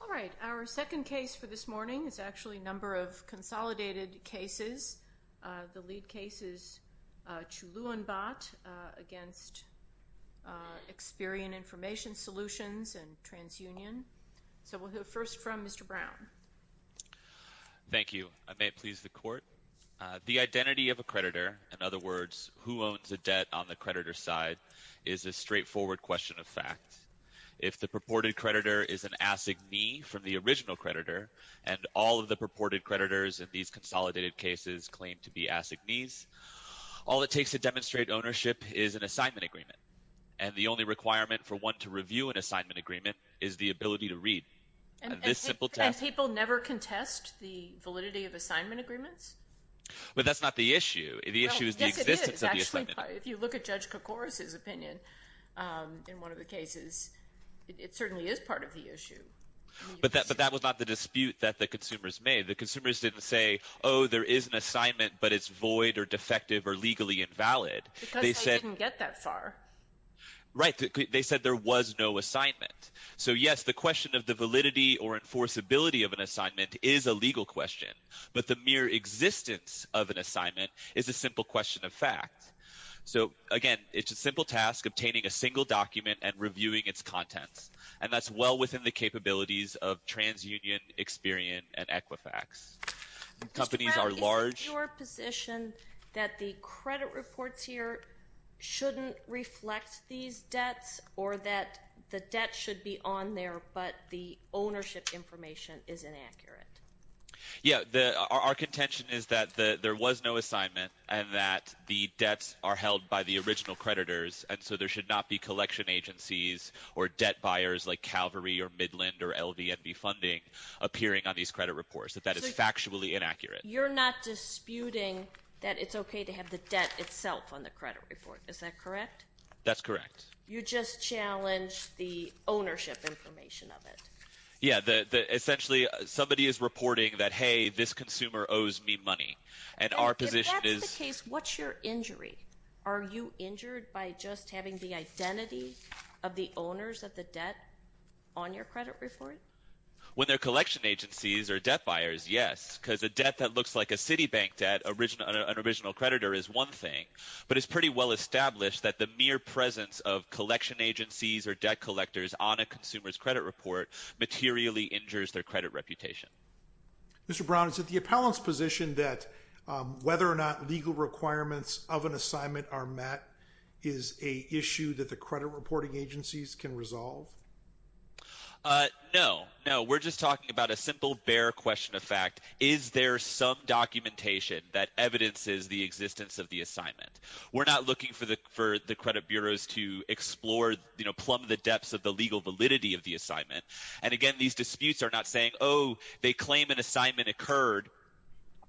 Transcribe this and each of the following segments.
All right. Our second case for this morning is actually a number of consolidated cases. The lead case is Chuluunbat against Experian Information Solutions and TransUnion. So we'll hear first from Mr. Brown. Thank you. I may please the court. The identity of a creditor, in other words, who owns the debt on the creditor's side, is a straightforward question of fact. If the purported creditor is an assignee from the original creditor, and all of the purported creditors in these consolidated cases claim to be assignees, all it takes to demonstrate ownership is an assignment agreement. And the only requirement for one to review an assignment agreement is the ability to read. And people never contest the validity of assignment agreements? But that's not the issue. The issue is the existence of the assignment agreement. Actually, if you look at Judge Kokoris's opinion in one of the cases, it certainly is part of the issue. But that was not the dispute that the consumers made. The consumers didn't say, oh, there is an assignment, but it's void or defective or legally invalid. Because they didn't get that far. Right. They said there was no assignment. So, yes, the question of the validity or enforceability of an assignment is a legal question. But the mere existence of an assignment is a simple question of fact. So, again, it's a simple task, obtaining a single document and reviewing its contents. And that's well within the capabilities of TransUnion, Experian, and Equifax. Companies are large. Mr. Brown, is it your position that the credit reports here shouldn't reflect these debts or that the debt should be on there but the ownership information is inaccurate? Yeah. Our contention is that there was no assignment and that the debts are held by the original creditors. And so there should not be collection agencies or debt buyers like Calvary or Midland or LVNB funding appearing on these credit reports, that that is factually inaccurate. You're not disputing that it's okay to have the debt itself on the credit report. Is that correct? That's correct. You just challenged the ownership information of it. Yeah. Essentially, somebody is reporting that, hey, this consumer owes me money. And our position is – If that's the case, what's your injury? Are you injured by just having the identity of the owners of the debt on your credit report? When they're collection agencies or debt buyers, yes. Because a debt that looks like a Citibank debt, an original creditor, is one thing. But it's pretty well established that the mere presence of collection agencies or debt collectors on a consumer's credit report materially injures their credit reputation. Mr. Brown, is it the appellant's position that whether or not legal requirements of an assignment are met is an issue that the credit reporting agencies can resolve? No. No. We're just talking about a simple, bare question of fact. Is there some documentation that evidences the existence of the assignment? We're not looking for the credit bureaus to explore, you know, plumb the depths of the legal validity of the assignment. And, again, these disputes are not saying, oh, they claim an assignment occurred,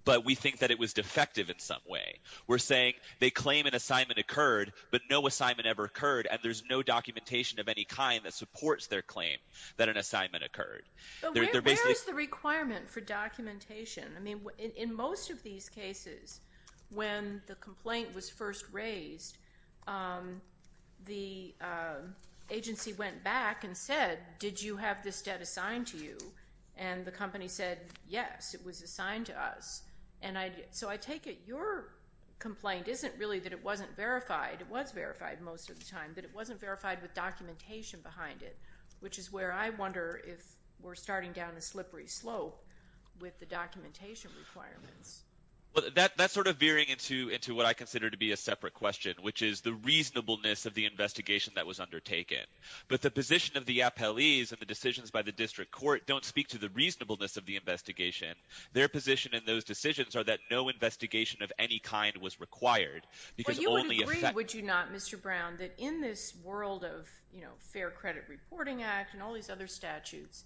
but we think that it was defective in some way. We're saying they claim an assignment occurred, but no assignment ever occurred, and there's no documentation of any kind that supports their claim that an assignment occurred. Where is the requirement for documentation? I mean, in most of these cases, when the complaint was first raised, the agency went back and said, did you have this debt assigned to you? And the company said, yes, it was assigned to us. So I take it your complaint isn't really that it wasn't verified. It was verified most of the time, but it wasn't verified with documentation behind it, which is where I wonder if we're starting down a slippery slope with the documentation requirements. That's sort of veering into what I consider to be a separate question, which is the reasonableness of the investigation that was undertaken. But the position of the appellees and the decisions by the district court don't speak to the reasonableness of the investigation. Their position in those decisions are that no investigation of any kind was required. Well, you would agree, would you not, Mr. Brown, that in this world of Fair Credit Reporting Act and all these other statutes,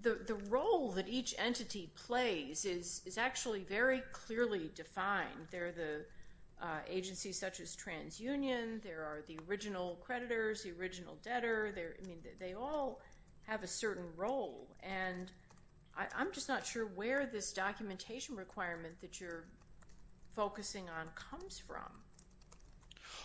the role that each entity plays is actually very clearly defined. There are the agencies such as TransUnion. There are the original creditors, the original debtor. I mean, they all have a certain role. I'm just not sure where this documentation requirement that you're focusing on comes from.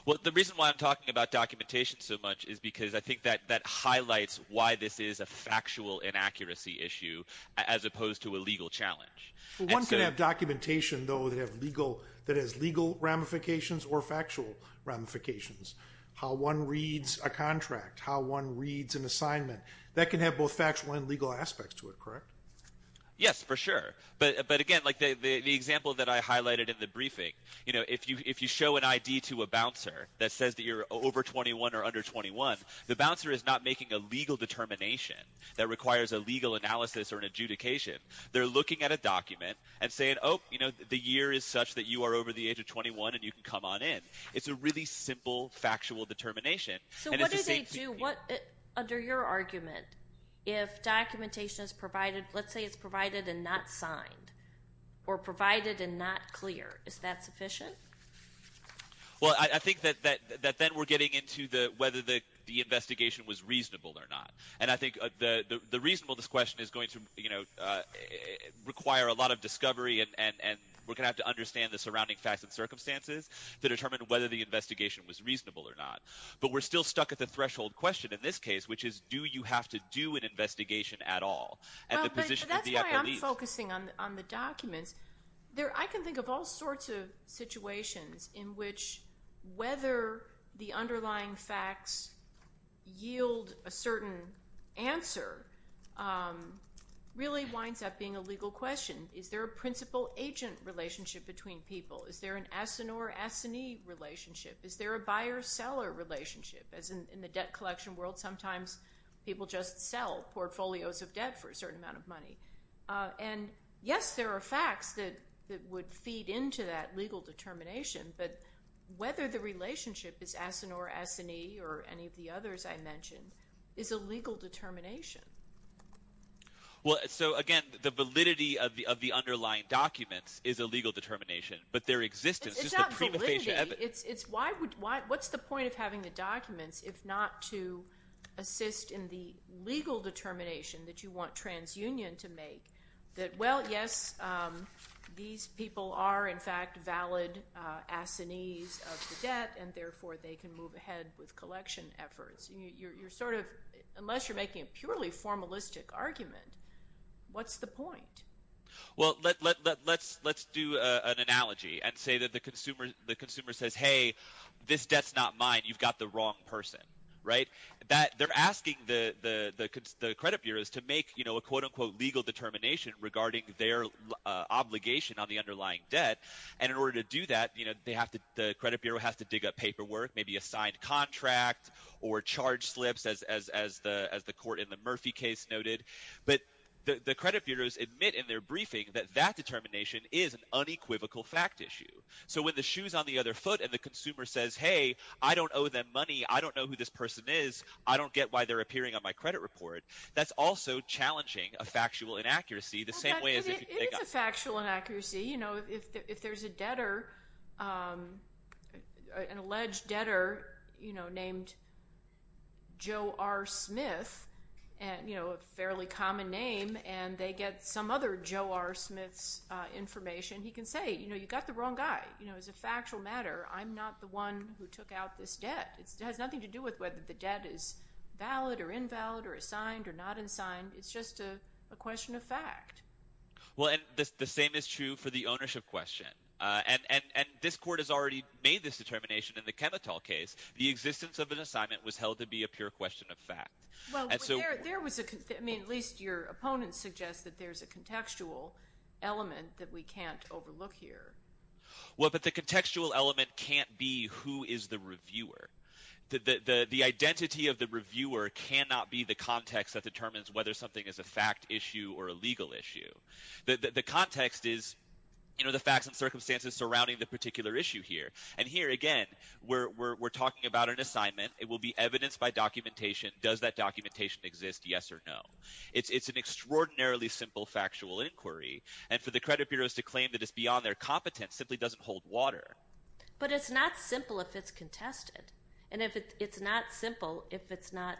Well, the reason why I'm talking about documentation so much is because I think that highlights why this is a factual inaccuracy issue as opposed to a legal challenge. One can have documentation, though, that has legal ramifications or factual ramifications. How one reads a contract, how one reads an assignment, that can have both factual and legal aspects to it, correct? Yes, for sure. But, again, like the example that I highlighted in the briefing, if you show an ID to a bouncer that says that you're over 21 or under 21, the bouncer is not making a legal determination that requires a legal analysis or an adjudication. They're looking at a document and saying, oh, the year is such that you are over the age of 21 and you can come on in. It's a really simple, factual determination. So what do they do under your argument if documentation is provided? Let's say it's provided and not signed or provided and not clear. Is that sufficient? Well, I think that then we're getting into whether the investigation was reasonable or not. And I think the reason for this question is going to require a lot of discovery and we're going to have to understand the surrounding facts and circumstances to determine whether the investigation was reasonable or not. But we're still stuck at the threshold question in this case, which is do you have to do an investigation at all? That's why I'm focusing on the documents. I can think of all sorts of situations in which whether the underlying facts yield a certain answer really winds up being a legal question. Is there a principal-agent relationship between people? Is there an asinore-asinine relationship? Is there a buyer-seller relationship? As in the debt collection world, sometimes people just sell portfolios of debt for a certain amount of money. And, yes, there are facts that would feed into that legal determination, but whether the relationship is asinore-asinine or any of the others I mentioned is a legal determination. Well, so, again, the validity of the underlying documents is a legal determination, but their existence is the prima facie evidence. What's the point of having the documents if not to assist in the legal determination that you want TransUnion to make that, well, yes, these people are, in fact, valid assinees of the debt and, therefore, they can move ahead with collection efforts? You're sort of, unless you're making a purely formalistic argument, what's the point? Well, let's do an analogy and say that the consumer says, hey, this debt's not mine. You've got the wrong person, right? They're asking the credit bureaus to make a quote-unquote legal determination regarding their obligation on the underlying debt, and in order to do that, the credit bureau has to dig up paperwork, maybe a signed contract or charge slips, as the court in the Murphy case noted. But the credit bureaus admit in their briefing that that determination is an unequivocal fact issue. So when the shoe's on the other foot and the consumer says, hey, I don't owe them money, I don't know who this person is, I don't get why they're appearing on my credit report, that's also challenging a factual inaccuracy the same way as if you dig up- It is a factual inaccuracy. If there's a debtor, an alleged debtor named Joe R. Smith, a fairly common name, and they get some other Joe R. Smith's information, he can say, you've got the wrong guy. As a factual matter, I'm not the one who took out this debt. It has nothing to do with whether the debt is valid or invalid or is signed or not in signed. It's just a question of fact. Well, and the same is true for the ownership question. And this court has already made this determination in the Chemitol case. The existence of an assignment was held to be a pure question of fact. Well, there was a – I mean, at least your opponents suggest that there's a contextual element that we can't overlook here. Well, but the contextual element can't be who is the reviewer. The identity of the reviewer cannot be the context that determines whether something is a fact issue or a legal issue. The context is the facts and circumstances surrounding the particular issue here. And here, again, we're talking about an assignment. It will be evidenced by documentation. Does that documentation exist, yes or no? It's an extraordinarily simple factual inquiry. And for the credit bureaus to claim that it's beyond their competence simply doesn't hold water. But it's not simple if it's contested. And it's not simple if it's not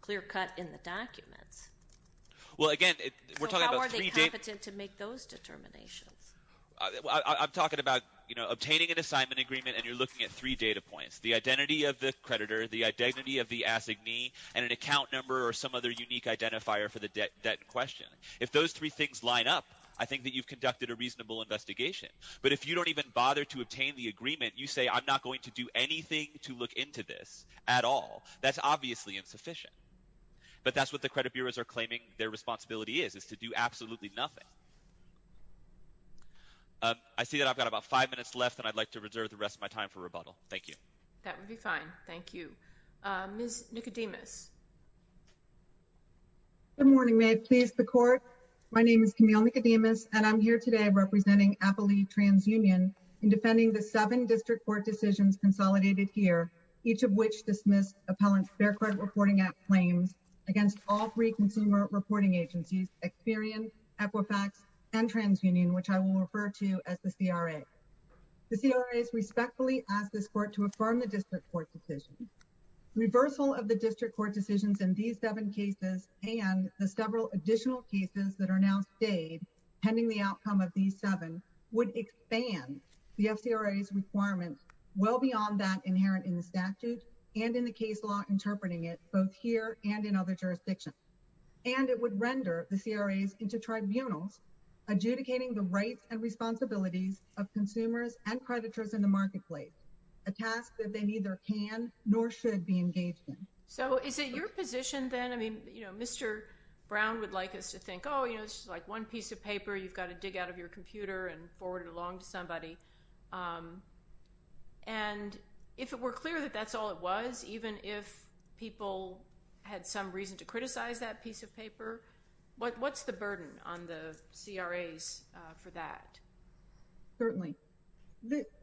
clear-cut in the documents. Well, again, we're talking about three – So how are they competent to make those determinations? I'm talking about obtaining an assignment agreement, and you're looking at three data points, the identity of the creditor, the identity of the assignee, and an account number or some other unique identifier for the debt in question. If those three things line up, I think that you've conducted a reasonable investigation. But if you don't even bother to obtain the agreement, you say, I'm not going to do anything to look into this at all. That's obviously insufficient. But that's what the credit bureaus are claiming their responsibility is, is to do absolutely nothing. I see that I've got about five minutes left, and I'd like to reserve the rest of my time for rebuttal. Thank you. That would be fine. Thank you. Good morning. May it please the Court? My name is Camille Nicodemus, and I'm here today representing Appley TransUnion in defending the seven district court decisions consolidated here, each of which dismissed appellant Fair Credit Reporting Act claims against all three consumer reporting agencies, Experian, Equifax, and TransUnion, which I will refer to as the CRA. The CRA has respectfully asked this Court to affirm the district court decision. Reversal of the district court decisions in these seven cases and the several additional cases that are now stayed pending the outcome of these seven would expand the CRA's requirements well beyond that inherent in the statute and in the case law interpreting it both here and in other jurisdictions. And it would render the CRAs into tribunals adjudicating the rights and responsibilities of consumers and creditors in the marketplace, a task that they neither can nor should be engaged in. So is it your position then? I mean, you know, Mr. Brown would like us to think, oh, you know, it's just like one piece of paper. You've got to dig out of your computer and forward it along to somebody. And if it were clear that that's all it was, even if people had some reason to criticize that piece of paper, what's the burden on the CRAs for that? Certainly.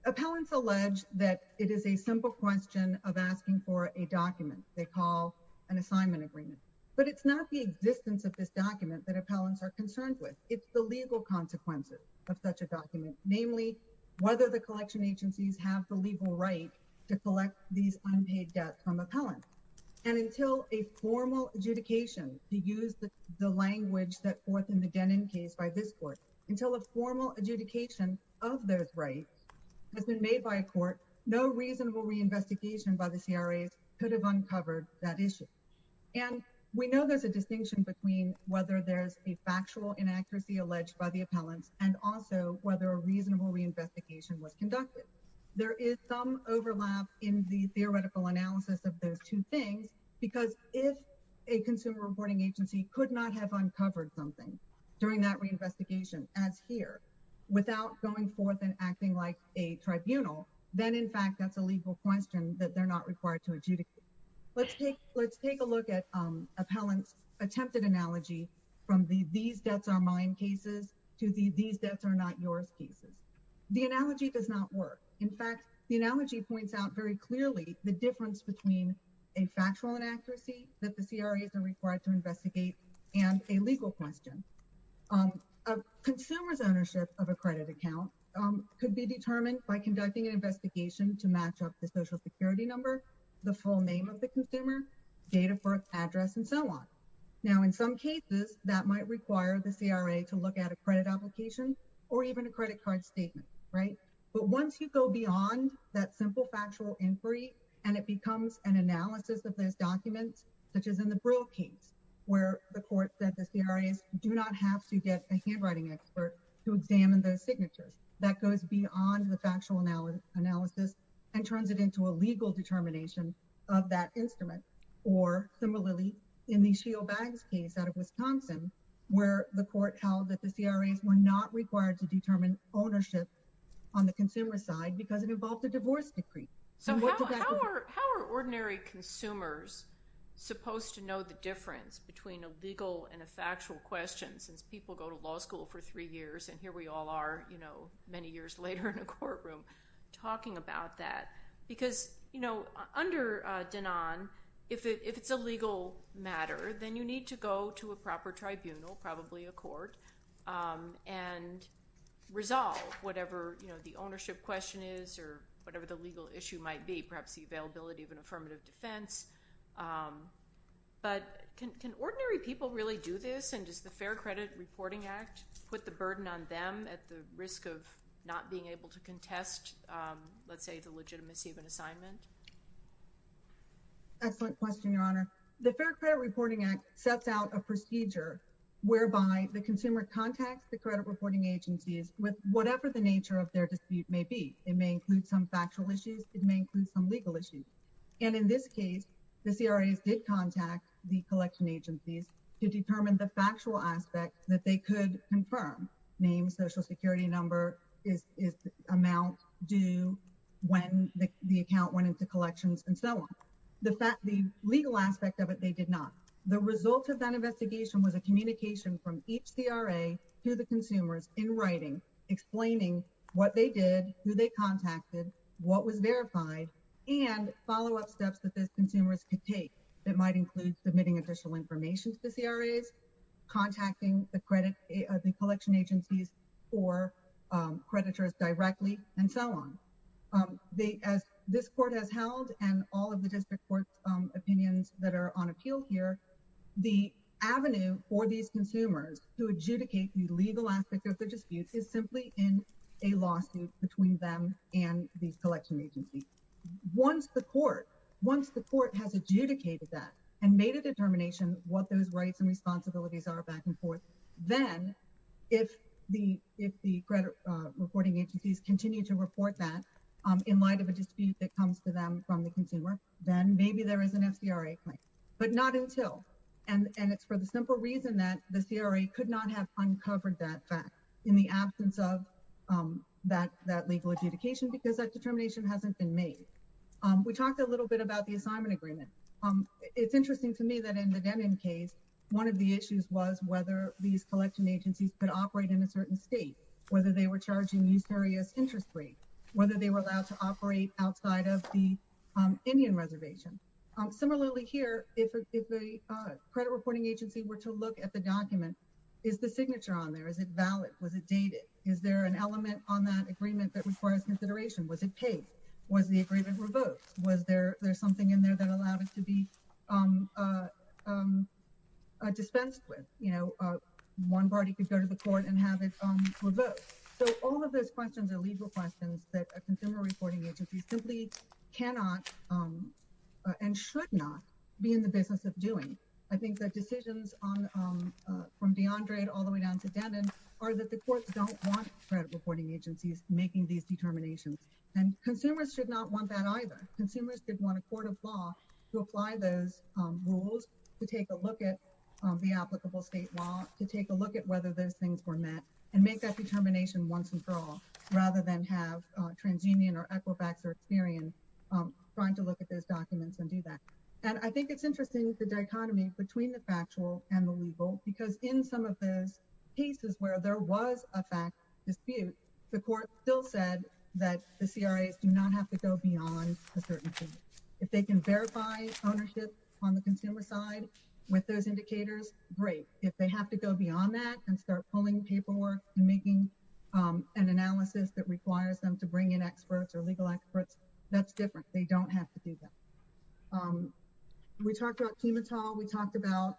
Appellants allege that it is a simple question of asking for a document they call an assignment agreement. But it's not the existence of this document that appellants are concerned with. It's the legal consequences of such a document, namely, whether the collection agencies have the legal right to collect these unpaid debts from appellants. And until a formal adjudication, to use the language that forth in the Denon case by this court, until a formal adjudication of those rights has been made by a court, no reasonable reinvestigation by the CRAs could have uncovered that issue. And we know there's a distinction between whether there's a factual inaccuracy alleged by the appellants and also whether a reasonable reinvestigation was conducted. There is some overlap in the theoretical analysis of those two things, because if a consumer reporting agency could not have uncovered something during that reinvestigation, as here, without going forth and acting like a tribunal, then in fact that's a legal question that they're not required to adjudicate. Let's take a look at appellants' attempted analogy from the these debts are mine cases to the these debts are not yours cases. The analogy does not work. In fact, the analogy points out very clearly the difference between a factual inaccuracy that the CRAs are required to investigate and a legal question. A consumer's ownership of a credit account could be determined by conducting an investigation to match up the social security number, the full name of the consumer, date of birth, address, and so on. Now, in some cases, that might require the CRA to look at a credit application or even a credit card statement, right? But once you go beyond that simple factual inquiry and it becomes an analysis of those documents, such as in the Brill case, where the court said the CRAs do not have to get a handwriting expert to examine those signatures, that goes beyond the factual analysis and turns it into a legal determination of that instrument. Or, similarly, in the Shiel Bags case out of Wisconsin, where the court held that the CRAs were not required to determine ownership on the consumer side because it involved a divorce decree. So how are ordinary consumers supposed to know the difference between a legal and a factual question since people go to law school for three years and here we all are, you know, many years later in a courtroom talking about that? Because, you know, under DENAN, if it's a legal matter, then you need to go to a proper tribunal, probably a court, and resolve whatever, you know, the ownership question is or whatever the legal issue might be, perhaps the availability of an affirmative defense. But can ordinary people really do this and does the Fair Credit Reporting Act put the burden on them at the risk of not being able to contest, let's say, the legitimacy of an assignment? Excellent question, Your Honor. The Fair Credit Reporting Act sets out a procedure whereby the consumer contacts the credit reporting agencies with whatever the nature of their dispute may be. It may include some factual issues. It may include some legal issues. And in this case, the CRAs did contact the collection agencies to determine the factual aspect that they could confirm. Name, social security number, amount due, when the account went into collections, and so on. The legal aspect of it, they did not. The result of that investigation was a communication from each CRA to the consumers in writing, explaining what they did, who they contacted, what was verified, and follow-up steps that those consumers could take. It might include submitting additional information to the CRAs, contacting the collection agencies or creditors directly, and so on. As this court has held and all of the district court opinions that are on appeal here, the avenue for these consumers to adjudicate the legal aspect of their dispute is simply in a lawsuit between them and the collection agency. Once the court has adjudicated that and made a determination what those rights and responsibilities are back and forth, then if the credit reporting agencies continue to report that in light of a dispute that comes to them from the consumer, then maybe there is an FCRA claim. But not until, and it's for the simple reason that the CRA could not have uncovered that fact in the absence of that legal adjudication because that determination hasn't been made. We talked a little bit about the assignment agreement. It's interesting to me that in the Denim case, one of the issues was whether these collection agencies could operate in a certain state, whether they were charging new serious interest rate, whether they were allowed to operate outside of the Indian reservation. Similarly here, if a credit reporting agency were to look at the document, is the signature on there? Is it valid? Was it dated? Is there an element on that agreement that requires consideration? Was it paid? Was the agreement revoked? Was there something in there that allowed it to be dispensed with? You know, one party could go to the court and have it revoked. So all of those questions are legal questions that a consumer reporting agency simply cannot and should not be in the business of doing. I think that decisions from DeAndre all the way down to Denim are that the courts don't want credit reporting agencies making these determinations. And consumers should not want that either. Consumers did want a court of law to apply those rules, to take a look at the applicable state law, to take a look at whether those things were met, and make that determination once and for all, rather than have TransUnion or Equifax or Experian trying to look at those documents and do that. And I think it's interesting, the dichotomy between the factual and the legal, because in some of those cases where there was a fact dispute, the court still said that the CRAs do not have to go beyond a certain point. If they can verify ownership on the consumer side with those indicators, great. If they have to go beyond that and start pulling paperwork and making an analysis that requires them to bring in experts or legal experts, that's different. They don't have to do that. We talked about chemotol. We talked about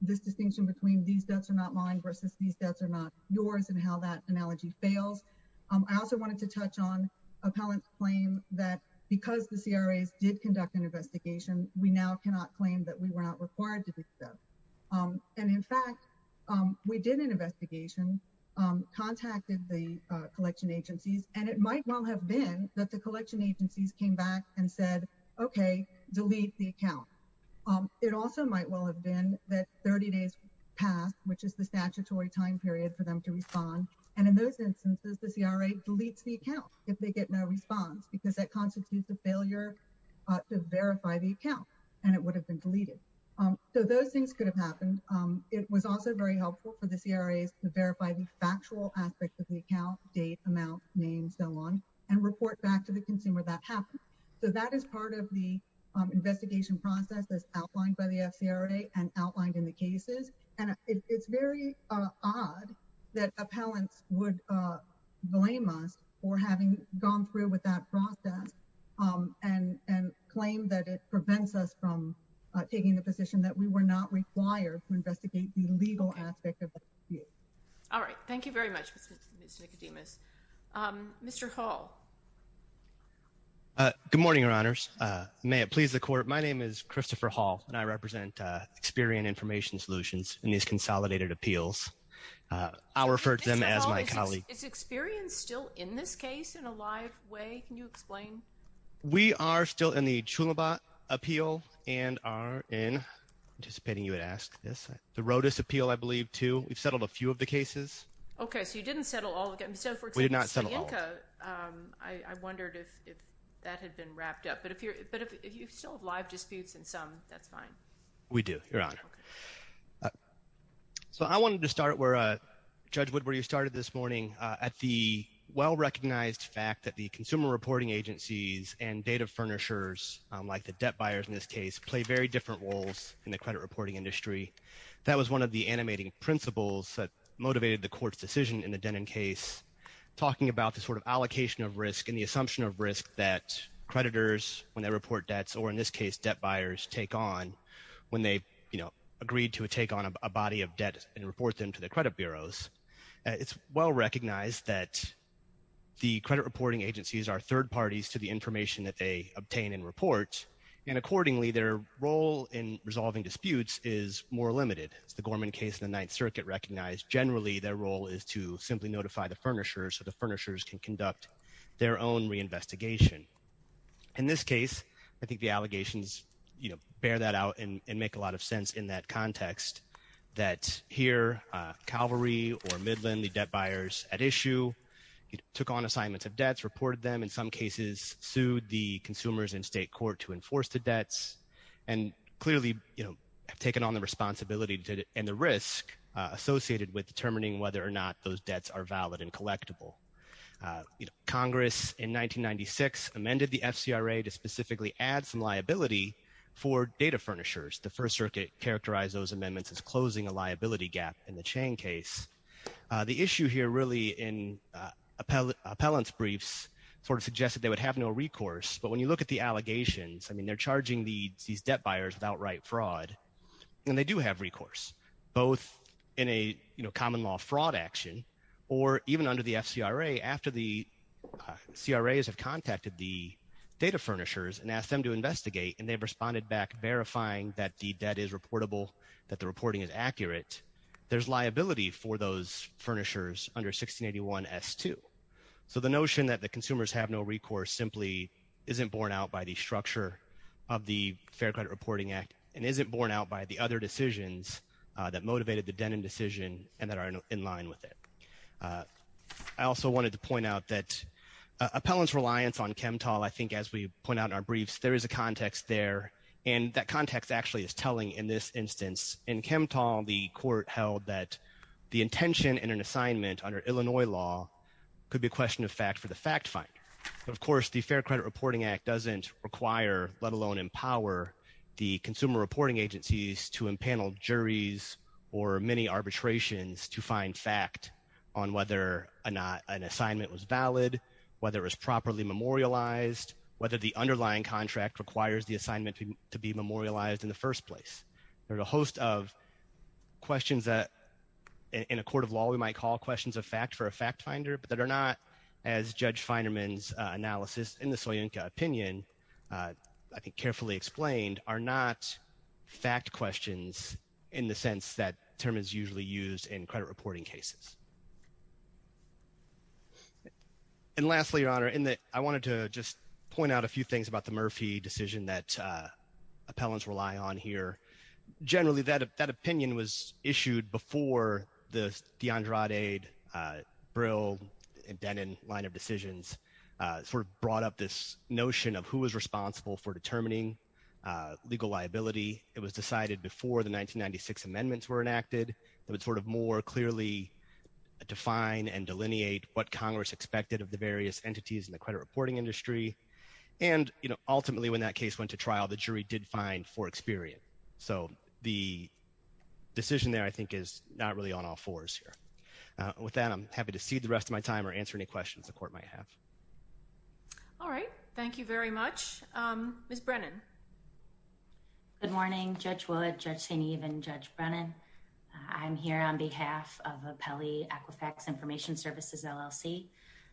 this distinction between these debts are not mine versus these debts are not yours and how that analogy fails. I also wanted to touch on appellant's claim that because the CRAs did conduct an investigation, we now cannot claim that we were not required to do so. And in fact, we did an investigation, contacted the collection agencies, and it might well have been that the collection agencies came back and said, okay, delete the account. It also might well have been that 30 days passed, which is the statutory time period for them to respond. And in those instances, the CRA deletes the account if they get no response, because that constitutes a failure to verify the account, and it would have been deleted. So those things could have happened. It was also very helpful for the CRAs to verify the factual aspects of the account, date, amount, name, so on, and report back to the consumer that happened. So that is part of the investigation process that's outlined by the CRA and outlined in the cases. And it's very odd that appellants would blame us for having gone through with that process and claim that it prevents us from taking the position that we were not required to investigate the legal aspect of the dispute. All right. Thank you very much, Ms. Nicodemus. Mr. Hall. Good morning, Your Honors. May it please the Court, my name is Christopher Hall, and I represent Experian Information Solutions in these consolidated appeals. I'll refer to them as my colleague. Is Experian still in this case in a live way? Can you explain? We are still in the Chulibat appeal and are in, anticipating you would ask this, the Rodas appeal, I believe, too. We've settled a few of the cases. Okay, so you didn't settle all of them. We did not settle all of them. I wondered if that had been wrapped up. But if you still have live disputes in some, that's fine. We do, Your Honor. So I wanted to start where Judge Woodbury started this morning at the well-recognized fact that the consumer reporting agencies and data furnishers, like the debt buyers in this case, play very different roles in the credit reporting industry. That was one of the animating principles that motivated the Court's decision in the Denton case, talking about the sort of allocation of risk and the assumption of risk that creditors, when they report debts, or in this case debt buyers, take on when they, you know, agreed to take on a body of debt and report them to the credit bureaus. It's well recognized that the credit reporting agencies are third parties to the information that they obtain and report, and accordingly their role in resolving disputes is more limited. As the Gorman case in the Ninth Circuit recognized, generally their role is to simply notify the furnishers so the furnishers can conduct their own reinvestigation. In this case, I think the allegations, you know, bear that out and make a lot of sense in that context, that here Calvary or Midland, the debt buyers at issue, took on assignments of debts, reported them, and in some cases sued the consumers in state court to enforce the debts, and clearly, you know, have taken on the responsibility and the risk associated with determining whether or not those debts are valid and collectible. Congress in 1996 amended the FCRA to specifically add some liability for data furnishers. The First Circuit characterized those amendments as closing a liability gap in the Chang case. The issue here really in appellant's briefs sort of suggested they would have no recourse, but when you look at the allegations, I mean, they're charging these debt buyers with outright fraud, and they do have recourse, both in a, you know, common law fraud action or even under the FCRA after the CRAs have contacted the data furnishers and asked them to investigate and they've responded back verifying that the debt is reportable, that the reporting is accurate. There's liability for those furnishers under 1681S2. So the notion that the consumers have no recourse simply isn't borne out by the structure of the Fair Credit Reporting Act and isn't borne out by the other decisions that motivated the Denham decision and that are in line with it. I also wanted to point out that appellant's reliance on Chemtol, I think as we point out in our briefs, there is a context there, and that context actually is telling in this instance. In Chemtol, the court held that the intention in an assignment under Illinois law could be a question of fact for the fact finder. Of course, the Fair Credit Reporting Act doesn't require, let alone empower, the consumer reporting agencies to impanel juries or many arbitrations to find fact on whether an assignment was valid, whether it was properly memorialized, whether the underlying contract requires the assignment to be memorialized in the first place. There's a host of questions that in a court of law we might call questions of fact for a fact finder, but that are not, as Judge Feinerman's analysis in the Soyinka opinion I think carefully explained, are not fact questions in the sense that term is usually used in credit reporting cases. And lastly, Your Honor, I wanted to just point out a few things about the Murphy decision that appellants rely on here. Generally, that opinion was issued before the DeAndrade, Brill, and Denin line of decisions sort of brought up this notion of who was responsible for determining legal liability. It was decided before the 1996 amendments were enacted. It would sort of more clearly define and delineate what Congress expected of the various entities in the credit reporting industry. And, you know, ultimately when that case went to trial, the jury did fine for experience. So the decision there, I think, is not really on all fours here. With that, I'm happy to cede the rest of my time or answer any questions the court might have. All right. Thank you very much. Ms. Brennan. Good morning, Judge Wood, Judge St. Eve, and Judge Brennan. I'm here on behalf of Appellee Aquifax Information Services, LLC,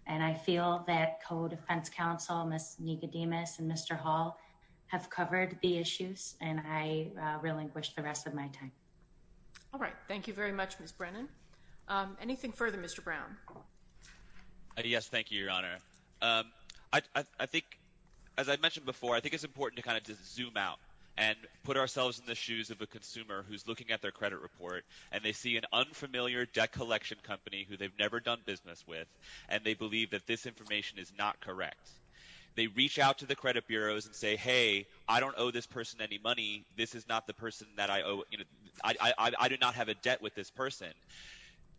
and I feel that co-defense counsel, Ms. Nicodemus and Mr. Hall, have covered the issues, and I relinquish the rest of my time. All right. Thank you very much, Ms. Brennan. Anything further, Mr. Brown? Yes, thank you, Your Honor. I think, as I mentioned before, I think it's important to kind of just zoom out and put ourselves in the shoes of a consumer who's looking at their credit report, and they see an unfamiliar debt collection company who they've never done business with, and they believe that this information is not correct. They reach out to the credit bureaus and say, hey, I don't owe this person any money. This is not the person that I owe. I do not have a debt with this person.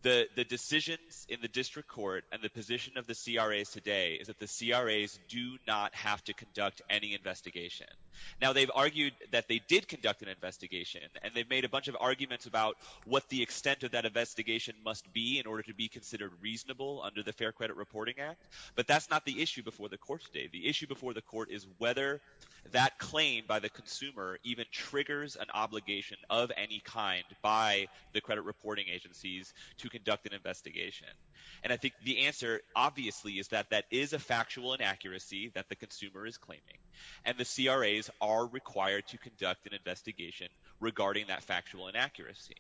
The decisions in the district court and the position of the CRAs today is that the CRAs do not have to conduct any investigation. Now, they've argued that they did conduct an investigation, and they've made a bunch of arguments about what the extent of that investigation must be in order to be considered reasonable under the Fair Credit Reporting Act, but that's not the issue before the court today. The issue before the court is whether that claim by the consumer even triggers an obligation of any kind by the credit reporting agencies to conduct an investigation. And I think the answer, obviously, is that that is a factual inaccuracy that the consumer is claiming, and the CRAs are required to conduct an investigation regarding that factual inaccuracy.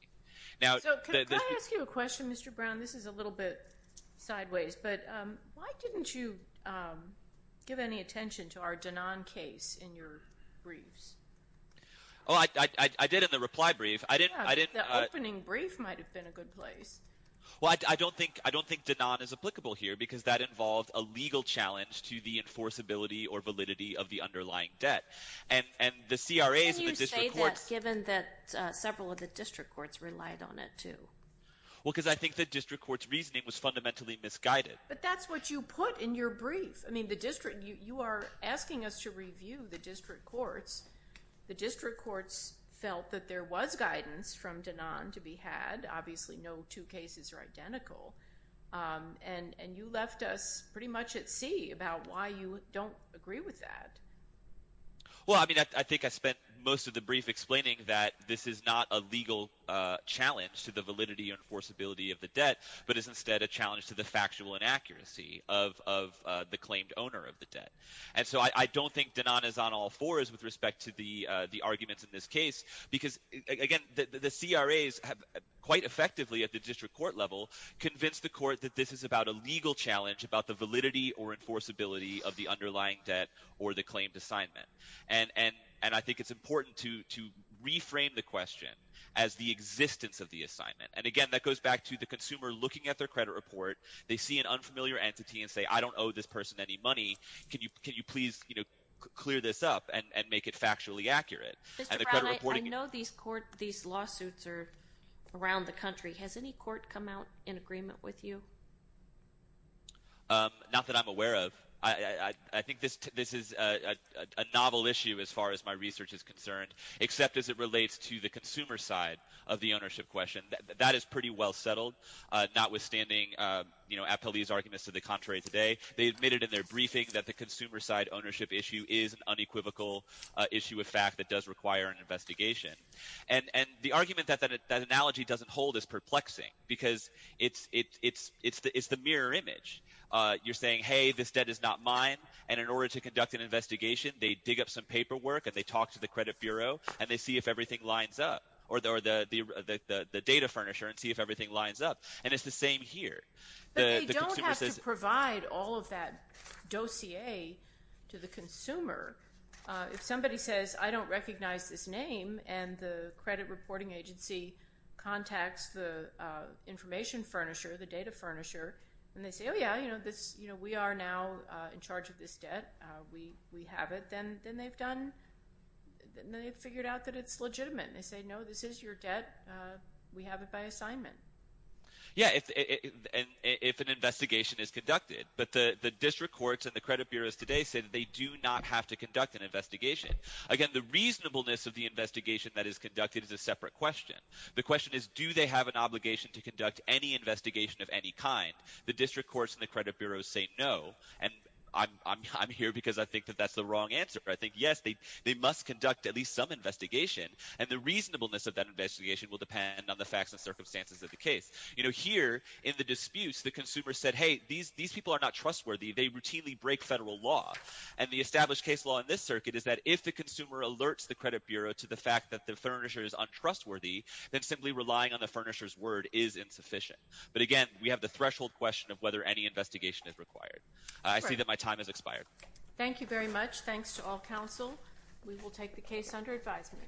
So can I ask you a question, Mr. Brown? This is a little bit sideways, but why didn't you give any attention to our Danone case in your briefs? Oh, I did in the reply brief. Yeah, the opening brief might have been a good place. Well, I don't think Danone is applicable here because that involved a legal challenge to the enforceability or validity of the underlying debt. Can you say that given that several of the district courts relied on it too? Well, because I think the district court's reasoning was fundamentally misguided. But that's what you put in your brief. I mean, you are asking us to review the district courts. The district courts felt that there was guidance from Danone to be had. Obviously, no two cases are identical. And you left us pretty much at sea about why you don't agree with that. Well, I mean, I think I spent most of the brief explaining that this is not a legal challenge to the validity or enforceability of the debt but is instead a challenge to the factual inaccuracy of the claimed owner of the debt. And so I don't think Danone is on all fours with respect to the arguments in this case because, again, the CRAs have quite effectively at the district court level convinced the court that this is about a legal challenge, about the validity or enforceability of the underlying debt or the claimed assignment. And I think it's important to reframe the question as the existence of the assignment. And, again, that goes back to the consumer looking at their credit report. They see an unfamiliar entity and say, I don't owe this person any money. Can you please clear this up and make it factually accurate? Mr. Brown, I know these lawsuits are around the country. Has any court come out in agreement with you? Not that I'm aware of. I think this is a novel issue as far as my research is concerned, except as it relates to the consumer side of the ownership question. That is pretty well settled, notwithstanding Appellee's arguments to the contrary today. They admitted in their briefing that the consumer side ownership issue is an unequivocal issue of fact that does require an investigation. And the argument that that analogy doesn't hold is perplexing because it's the mirror image. You're saying, hey, this debt is not mine, and in order to conduct an investigation, they dig up some paperwork and they talk to the credit bureau and they see if everything lines up or the data furnisher and see if everything lines up. And it's the same here. But they don't have to provide all of that dossier to the consumer. If somebody says, I don't recognize this name, and the credit reporting agency contacts the information furnisher, the data furnisher, and they say, oh, yeah, we are now in charge of this debt. We have it. Then they've figured out that it's legitimate. They say, no, this is your debt. We have it by assignment. Yeah, if an investigation is conducted. But the district courts and the credit bureaus today say that they do not have to conduct an investigation. Again, the reasonableness of the investigation that is conducted is a separate question. The question is, do they have an obligation to conduct any investigation of any kind? The district courts and the credit bureaus say no. And I'm here because I think that that's the wrong answer. I think, yes, they must conduct at least some investigation. And the reasonableness of that investigation will depend on the facts and circumstances of the case. You know, here in the disputes, the consumer said, hey, these people are not trustworthy. They routinely break federal law. And the established case law in this circuit is that if the consumer alerts the credit bureau to the fact that the furnisher is untrustworthy, then simply relying on the furnisher's word is insufficient. But, again, we have the threshold question of whether any investigation is required. I see that my time has expired. Thank you very much. Thanks to all counsel. We will take the case under advisement.